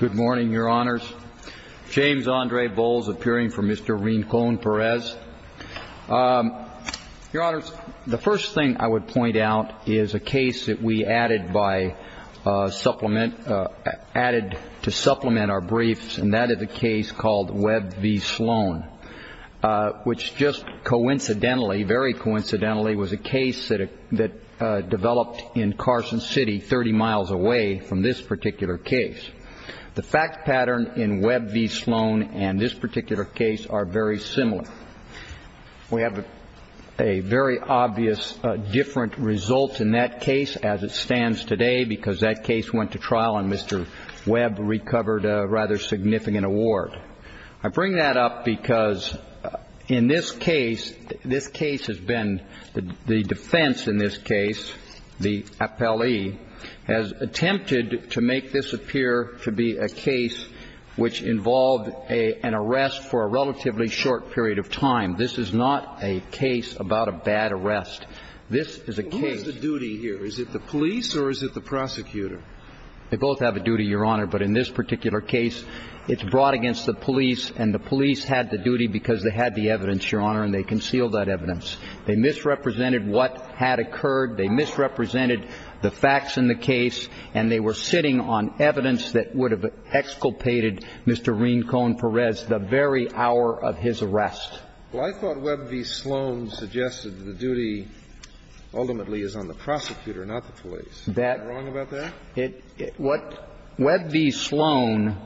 Good morning, Your Honors. James Andre Bowles appearing for Mr. Rincon-Perez. Your Honors, the first thing I would point out is a case that we added to supplement our briefs, and that is a case called Webb v. Sloan, which just coincidentally, very coincidentally, was a case that developed in Carson City, 30 miles away from this particular case. The fact pattern in Webb v. Sloan and this particular case are very similar. We have a very obvious different result in that case as it stands today because that case went to trial and Mr. Webb recovered a rather significant award. I bring that up because in this case, this case has been the defense in this case, the appellee, has attempted to make this appear to be a case which involved an arrest for a relatively short period of time. This is not a case about a bad arrest. This is a case. Who has the duty here? Is it the police or is it the prosecutor? They both have a duty, Your Honor, but in this particular case, it's brought against the police, and the police had the duty because they had the evidence, Your Honor, and they concealed that evidence. They misrepresented what had occurred. They misrepresented the facts in the case, and they were sitting on evidence that would have exculpated Mr. Rincon-Perez the very hour of his arrest. Well, I thought Webb v. Sloan suggested the duty ultimately is on the prosecutor, not the police. Is that wrong about that? What Webb v. Sloan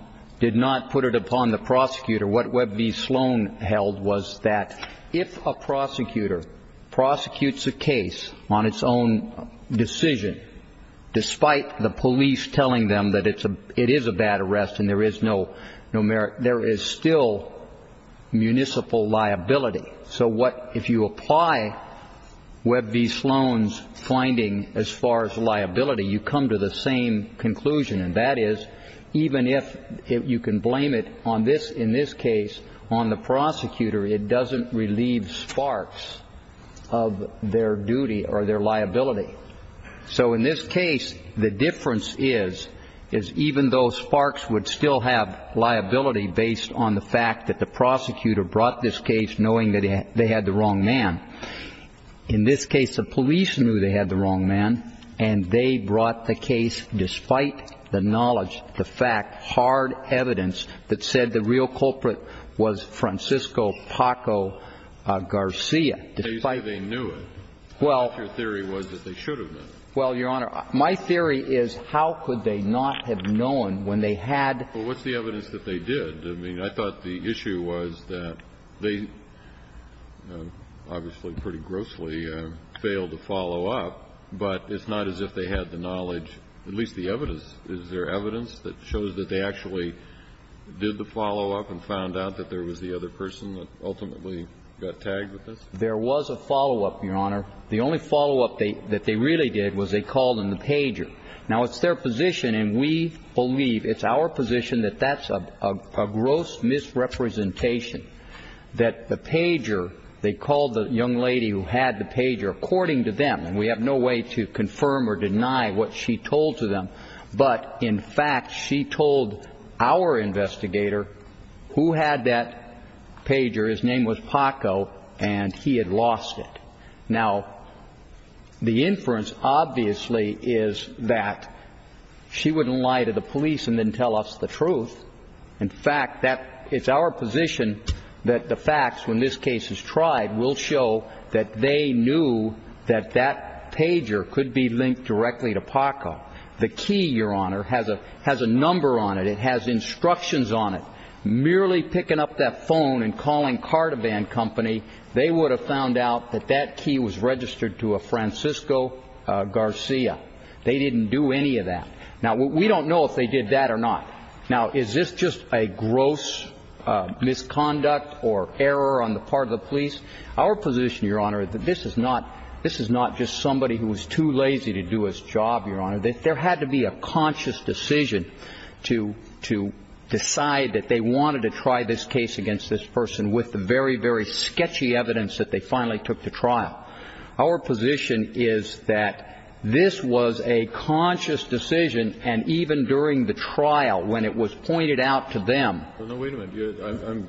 did not put it upon the prosecutor. What Webb v. Sloan held was that if a prosecutor prosecutes a case on its own decision, despite the police telling them that it is a bad arrest and there is no merit, there is still municipal liability. So if you apply Webb v. Sloan's finding as far as liability, you come to the same conclusion. And that is even if you can blame it on this, in this case, on the prosecutor, it doesn't relieve Sparks of their duty or their liability. So in this case, the difference is, is even though Sparks would still have liability based on the fact that the prosecutor brought this case knowing that they had the wrong man, in this case, the police knew they had the wrong man, and they brought the case despite the knowledge, the fact, hard evidence that said the real culprit was Francisco Paco Garcia. They knew it. Well. Your theory was that they should have knew. Well, Your Honor, my theory is how could they not have known when they had to? What is the evidence that they did? I thought the issue was that they obviously pretty grossly failed to follow up, but it's not as if they had the knowledge, at least the evidence. Is there evidence that shows that they actually did the follow up and found out that there was the other person that ultimately got tagged with this? There was. There was a follow up, Your Honor. The only follow up that they really did was they called in the pager. Now, it's their position and we believe it's our position that that's a gross misrepresentation that the pager they called the young lady who had the pager according to them. And we have no way to confirm or deny what she told to them. But in fact, she told our investigator who had that pager, his name was Paco, and he had lost it. Now, the inference obviously is that she wouldn't lie to the police and then tell us the truth. In fact, that is our position, that the facts, when this case is tried, will show that they knew that that pager could be linked directly to Paco. The key, Your Honor, has a number on it. It has instructions on it. Merely picking up that phone and calling car-to-band company, they would have found out that that key was registered to a Francisco Garcia. They didn't do any of that. Now, we don't know if they did that or not. Now, is this just a gross misconduct or error on the part of the police? Our position, Your Honor, that this is not just somebody who was too lazy to do his job, Your Honor. There had to be a conscious decision to decide that they wanted to try this case against this person with the very, very sketchy evidence that they finally took to trial. Our position is that this was a conscious decision, and even during the trial, when it was pointed out to them... Well, no, wait a minute.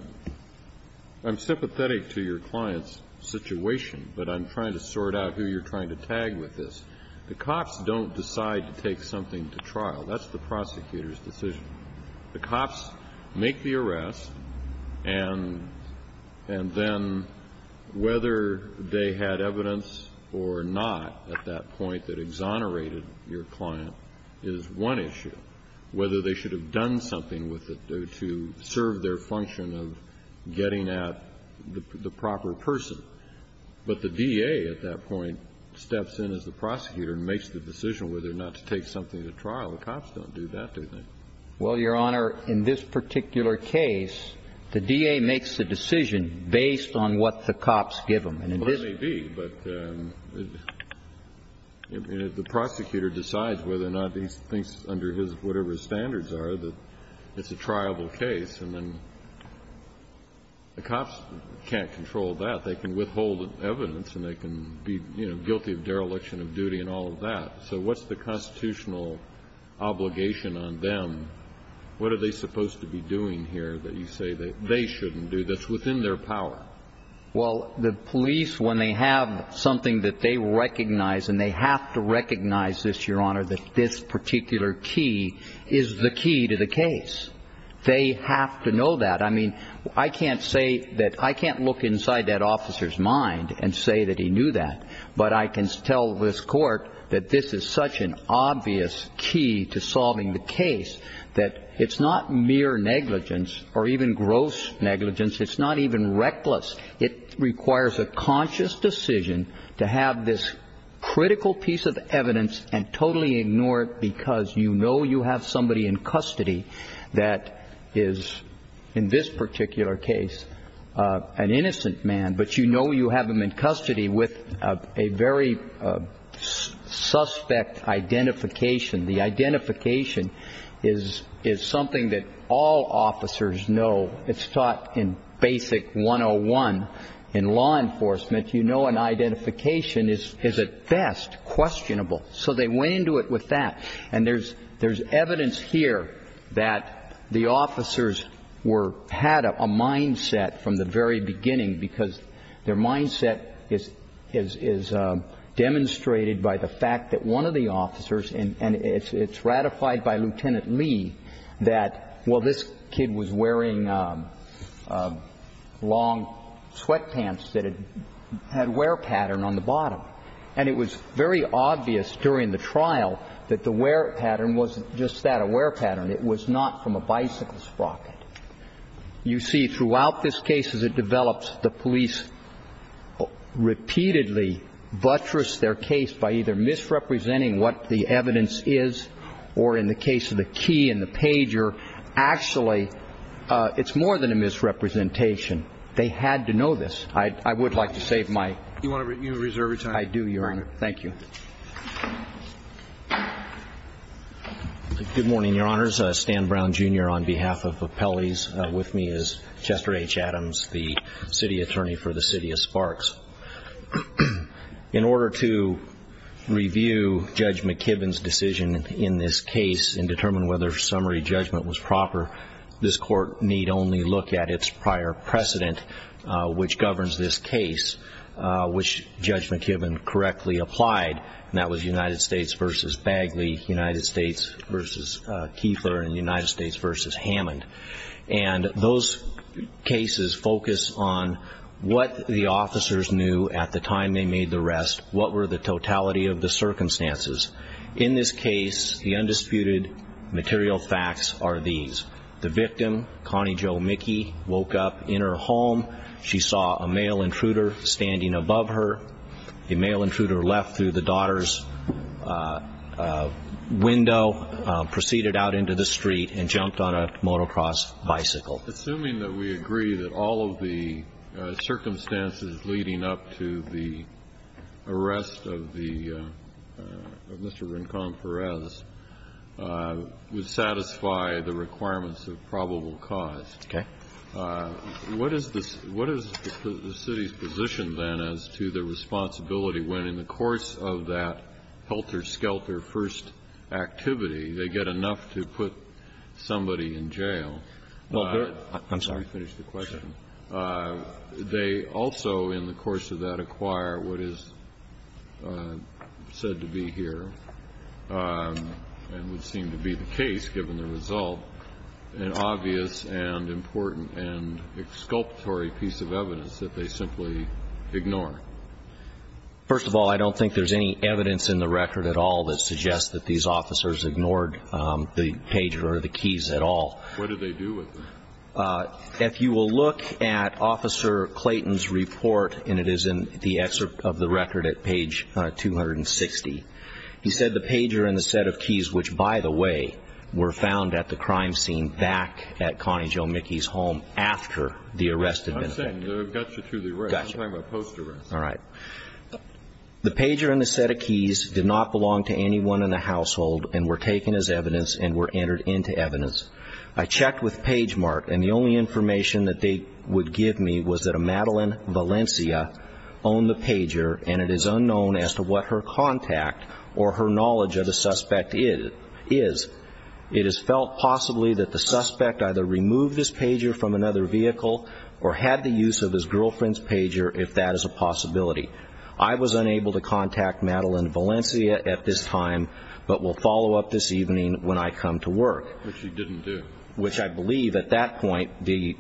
I'm sympathetic to your client's situation, but I'm trying to sort out who you're trying to tag with this. The cops don't decide to take something to trial. That's the prosecutor's decision. The cops make the arrest, and then whether they had evidence or not at that point that exonerated your client is one issue. Whether they should have done something with it to serve their function of getting at the proper person. But the DA at that point steps in as the prosecutor and makes the decision whether or not to take something to trial. The cops don't do that, do they? Well, Your Honor, in this particular case, the DA makes the decision based on what the cops give him. Well, it may be, but the prosecutor decides whether or not he thinks under whatever his standards are that it's a triable case, and then the cops can't control that. They can withhold evidence, and they can be guilty of dereliction of duty and all of that. So what's the constitutional obligation on them? What are they supposed to be doing here that you say they shouldn't do that's within their power? Well, the police, when they have something that they recognize, and they have to recognize this, Your Honor, that this particular key is the key to the case. They have to know that. I mean, I can't say that I can't look inside that officer's mind and say that he knew that, but I can tell this Court that this is such an obvious key to solving the case that it's not mere negligence or even gross negligence. It's not even reckless. It requires a conscious decision to have this critical piece of evidence and totally ignore it because you know you have somebody in custody that is, in this particular case, an innocent man, but you know you have him in custody with a very suspect identification. The identification is something that all officers know. It's taught in Basic 101 in law enforcement. You know an identification is at best questionable. So they went into it with that. And there's evidence here that the officers were, had a mindset from the very beginning because their mindset is demonstrated by the fact that one of the officers, and it's ratified by Lieutenant Lee, that, well, this kid was wearing long sweatpants that had wear pattern on the bottom. And it was very obvious during the trial that the wear pattern wasn't just that a wear pattern. It was not from a bicycle sprocket. You see, throughout this case as it develops, the police repeatedly buttress their case by either misrepresenting what the evidence is or, in the case of the key and the pager, actually it's more than a misrepresentation. They had to know this. I would like to save my time. I do, Your Honor. Thank you. Good morning, Your Honors. Stan Brown, Jr. on behalf of Appellees with me is Chester H. Adams, the city attorney for the city of Sparks. In order to review Judge McKibben's decision in this case and determine whether summary judgment was proper, this court need only look at its prior precedent, which governs this case, which Judge McKibben correctly applied, and that was United States v. Bagley, United States v. Kieffler, and United States v. Hammond. And those cases focus on what the officers knew at the time they made the arrest, what were the totality of the circumstances. In this case, the undisputed material facts are these. The victim, Connie Jo Mickey, woke up in her home. She saw a male intruder standing above her. The male intruder left through the daughter's window, proceeded out into the street, and jumped on a motocross bicycle. Assuming that we agree that all of the circumstances leading up to the arrest of Mr. Rincon Perez would satisfy the requirements of probable cause. Okay. What is the city's position, then, as to the responsibility when, in the course of that helter-skelter first activity, they get enough to put somebody in jail? I'm sorry. Let me finish the question. They also, in the course of that, acquire what is said to be here, and would seem to be the case given the result, an obvious and important and exculpatory piece of evidence that they simply ignore. First of all, I don't think there's any evidence in the record at all that suggests that these officers ignored the pager or the keys at all. What did they do with them? If you will look at Officer Clayton's report, and it is in the excerpt of the record at page 260, he said the pager and the set of keys, which, by the way, were found at the crime scene back at Connie Jo Mickey's home after the arrest had been committed. I'm saying they got you to the arrest. I'm talking about post-arrest. All right. The pager and the set of keys did not belong to anyone in the household, and were taken as evidence, and were entered into evidence. I checked with Pagemart, and the only information that they would give me was that a Madeline Valencia owned the pager, and it is unknown as to what her contact or her knowledge of the suspect is. It is felt possibly that the suspect either removed his pager from another vehicle, or had the use of his girlfriend's pager, if that is a possibility. I was unable to contact Madeline Valencia at this time, but will follow up this evening when I come to work. Which you didn't do. Which I believe, at that point, the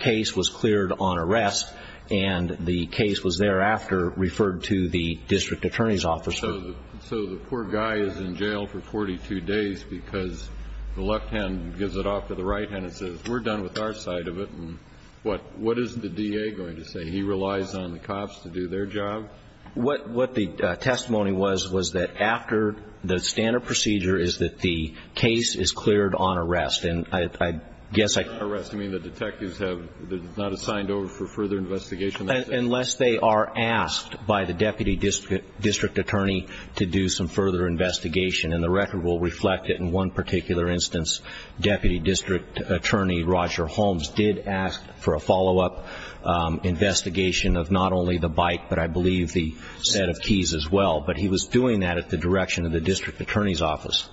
case was cleared on arrest, and the case was thereafter referred to the district attorney's office. So the poor guy is in jail for 42 days because the left hand gives it off to the right hand and says, we're done with our side of it, and what is the DA going to say? He relies on the cops to do their job? What the testimony was, was that after the standard procedure is that the case is cleared on arrest, and I guess I- Arrest, you mean the detectives have not assigned over for further investigation? Unless they are asked by the deputy district attorney to do some further investigation, and the record will reflect it in one particular instance. Deputy District Attorney Roger Holmes did ask for the set of keys as well, but he was doing that at the direction of the district attorney's office.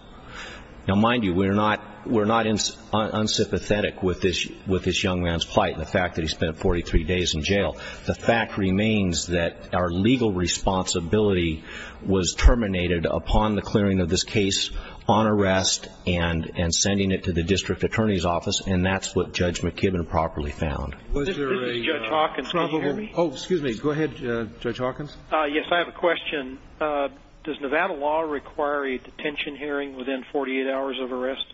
Now, mind you, we're not unsympathetic with this young man's plight, and the fact that he spent 43 days in jail. The fact remains that our legal responsibility was terminated upon the clearing of this case on arrest, and sending it to the district attorney's office, and that's what Judge McKibben properly found. Was there a- Judge Hawkins, can you hear me? Oh, excuse me. Go ahead, Judge Hawkins. Yes, I have a question. Does Nevada law require a detention hearing within 48 hours of arrest?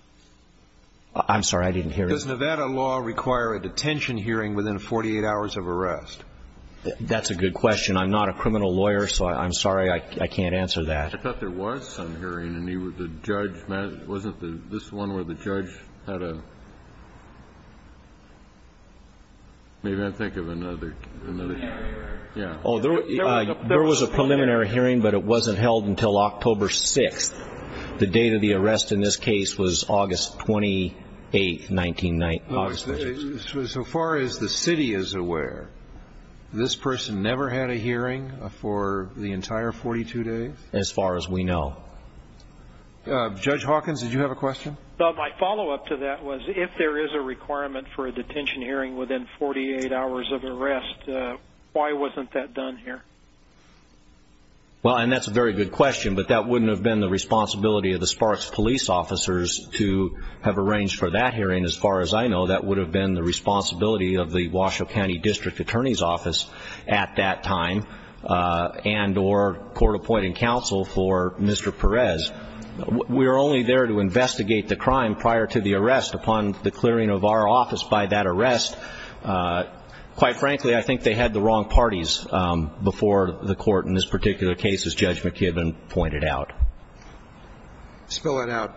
I'm sorry, I didn't hear you. Does Nevada law require a detention hearing within 48 hours of arrest? That's a good question. I'm not a criminal lawyer, so I'm sorry I can't answer that. I thought there was some hearing, and the judge- wasn't this one where the judge had a- Maybe I'm thinking of another- Yeah, yeah, yeah. Oh, there was a preliminary hearing, but it wasn't held until October 6th. The date of the arrest in this case was August 28th, 1996. So far as the city is aware, this person never had a hearing for the entire 42 days? As far as we know. Judge Hawkins, did you have a question? My follow-up to that was, if there is a requirement for a detention hearing within 48 hours of arrest, why wasn't that done here? Well, and that's a very good question, but that wouldn't have been the responsibility of the Sparks Police Officers to have arranged for that hearing. As far as I know, that would have been the responsibility of the Washoe County District Attorney's Office at that time, and or Court Appointing Counsel for Mr. Perez. We were only there to investigate the crime prior to the arrest upon the clearing of our office by that arrest. Quite frankly, I think they had the wrong parties before the court in this particular case, as Judge McKibben pointed out. Spill it out.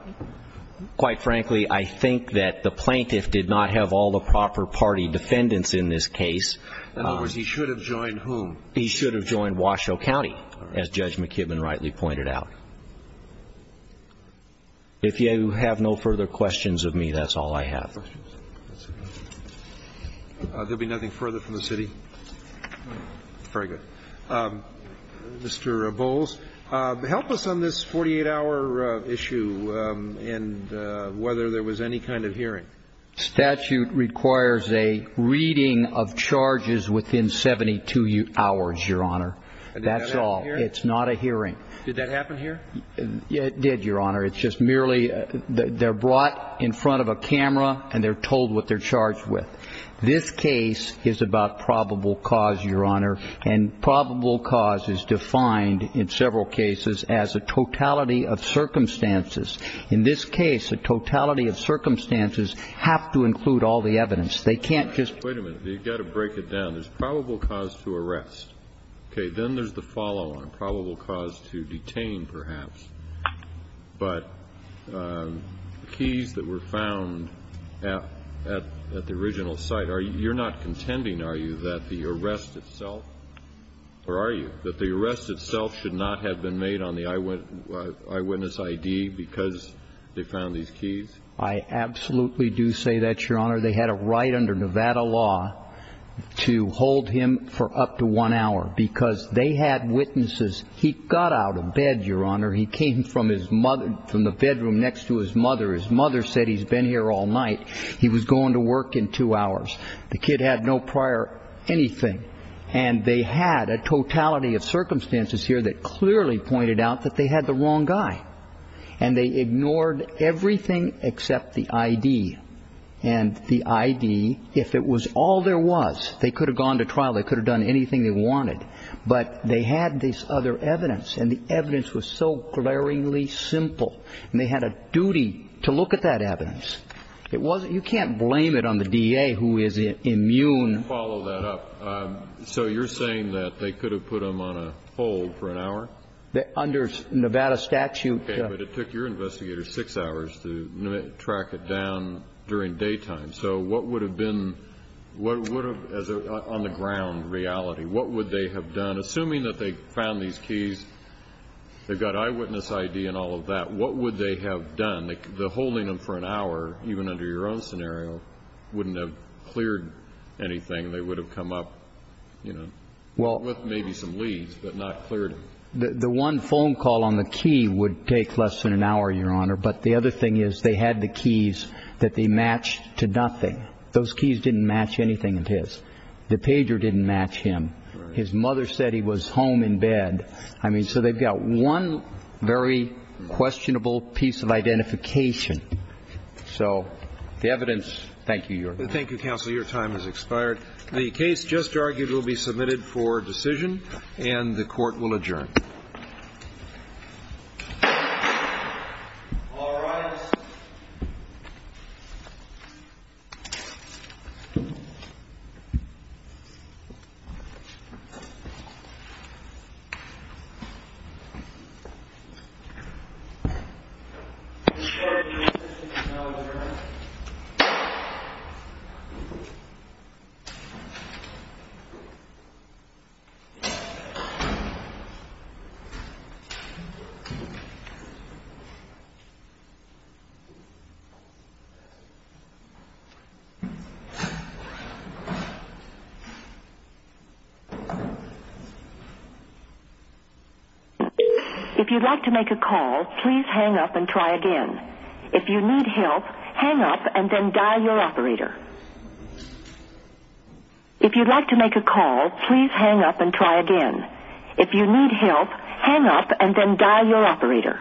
Quite frankly, I think that the plaintiff did not have all the proper party defendants in this case. In other words, he should have joined whom? He should have joined Washoe County, as Judge McKibben rightly pointed out. If you have no further questions of me, that's all I have. There will be nothing further from the city? Very good. Mr. Bowles, help us on this 48-hour issue and whether there was any kind of hearing. Statute requires a reading of charges within 72 hours, Your Honor. That's all. It's not a hearing. Did that happen here? It did, Your Honor. It's just merely they're brought in front of a camera and they're told what they're charged with. This case is about probable cause, Your Honor, and probable cause is defined in several cases as a totality of circumstances. In this case, a totality of circumstances have to include all the evidence. They can't just wait a minute. You've got to break it down. There's probable cause to arrest. Okay. Then there's the follow-on, probable cause to detain, perhaps. But keys that were found at the original site, you're not contending, are you, that the arrest itself, or are you, that the arrest itself should not have been made on the eyewitness ID because they found these keys? I absolutely do say that, Your Honor. They had a right under Nevada law to hold him for up to one hour because they had witnesses. He got out of bed, Your Honor. He came from the bedroom next to his mother. His mother said he's been here all night. He was going to work in two hours. The kid had no prior anything. And they had a totality of circumstances here that clearly pointed out that they had the wrong guy. And they ignored everything except the ID. And the ID, if it was all there was, they could have gone to trial. They could have done anything they wanted. But they had this other evidence. And the evidence was so glaringly simple. And they had a duty to look at that evidence. You can't blame it on the DA who is immune. Follow that up. So you're saying that they could have put him on a hold for an hour? Under Nevada statute. But it took your investigators six hours to track it down during daytime. So what would have been, what would have, on the ground reality, what would they have done? Assuming that they found these keys, they've got eyewitness ID and all of that. What would they have done? The holding him for an hour, even under your own scenario, wouldn't have cleared anything. They would have come up, you know, with maybe some leads, but not cleared him. The one phone call on the key would take less than an hour, Your Honor. But the other thing is they had the keys that they matched to nothing. Those keys didn't match anything of his. The pager didn't match him. His mother said he was home in bed. I mean, so they've got one very questionable piece of identification. So the evidence, thank you, Your Honor. Thank you, counsel. Your time has expired. The case just argued will be submitted for decision, and the Court will adjourn. All rise. Please be seated. If you'd like to make a call, please hang up and try again. If you need help, hang up and then dial your operator. If you'd like to make a call, please hang up and try again. If you need help, hang up and then dial your operator.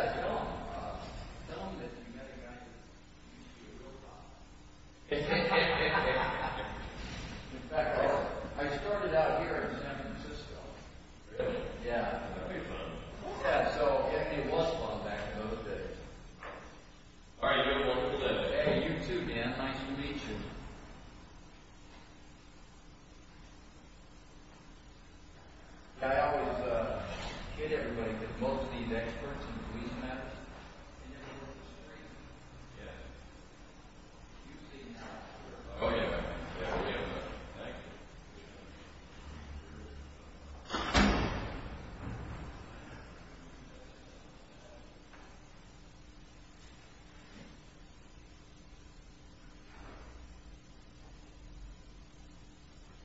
If you need help, hang up and then dial your operator. If you need help, hang up and then dial your operator. I represent the city of Kentucky. The city didn't care. I represent the city of Kentucky. I'm aware of the call. I'm aware of the call. I'm aware of the call. I'm aware of the call. I represent the city of Kentucky. I'm aware of the call. I'm aware of the call. I'm aware of the call. I'm aware of the call. I'm aware of the call. Yeah. Oh yeah. Yeah, we have another one. Thank you.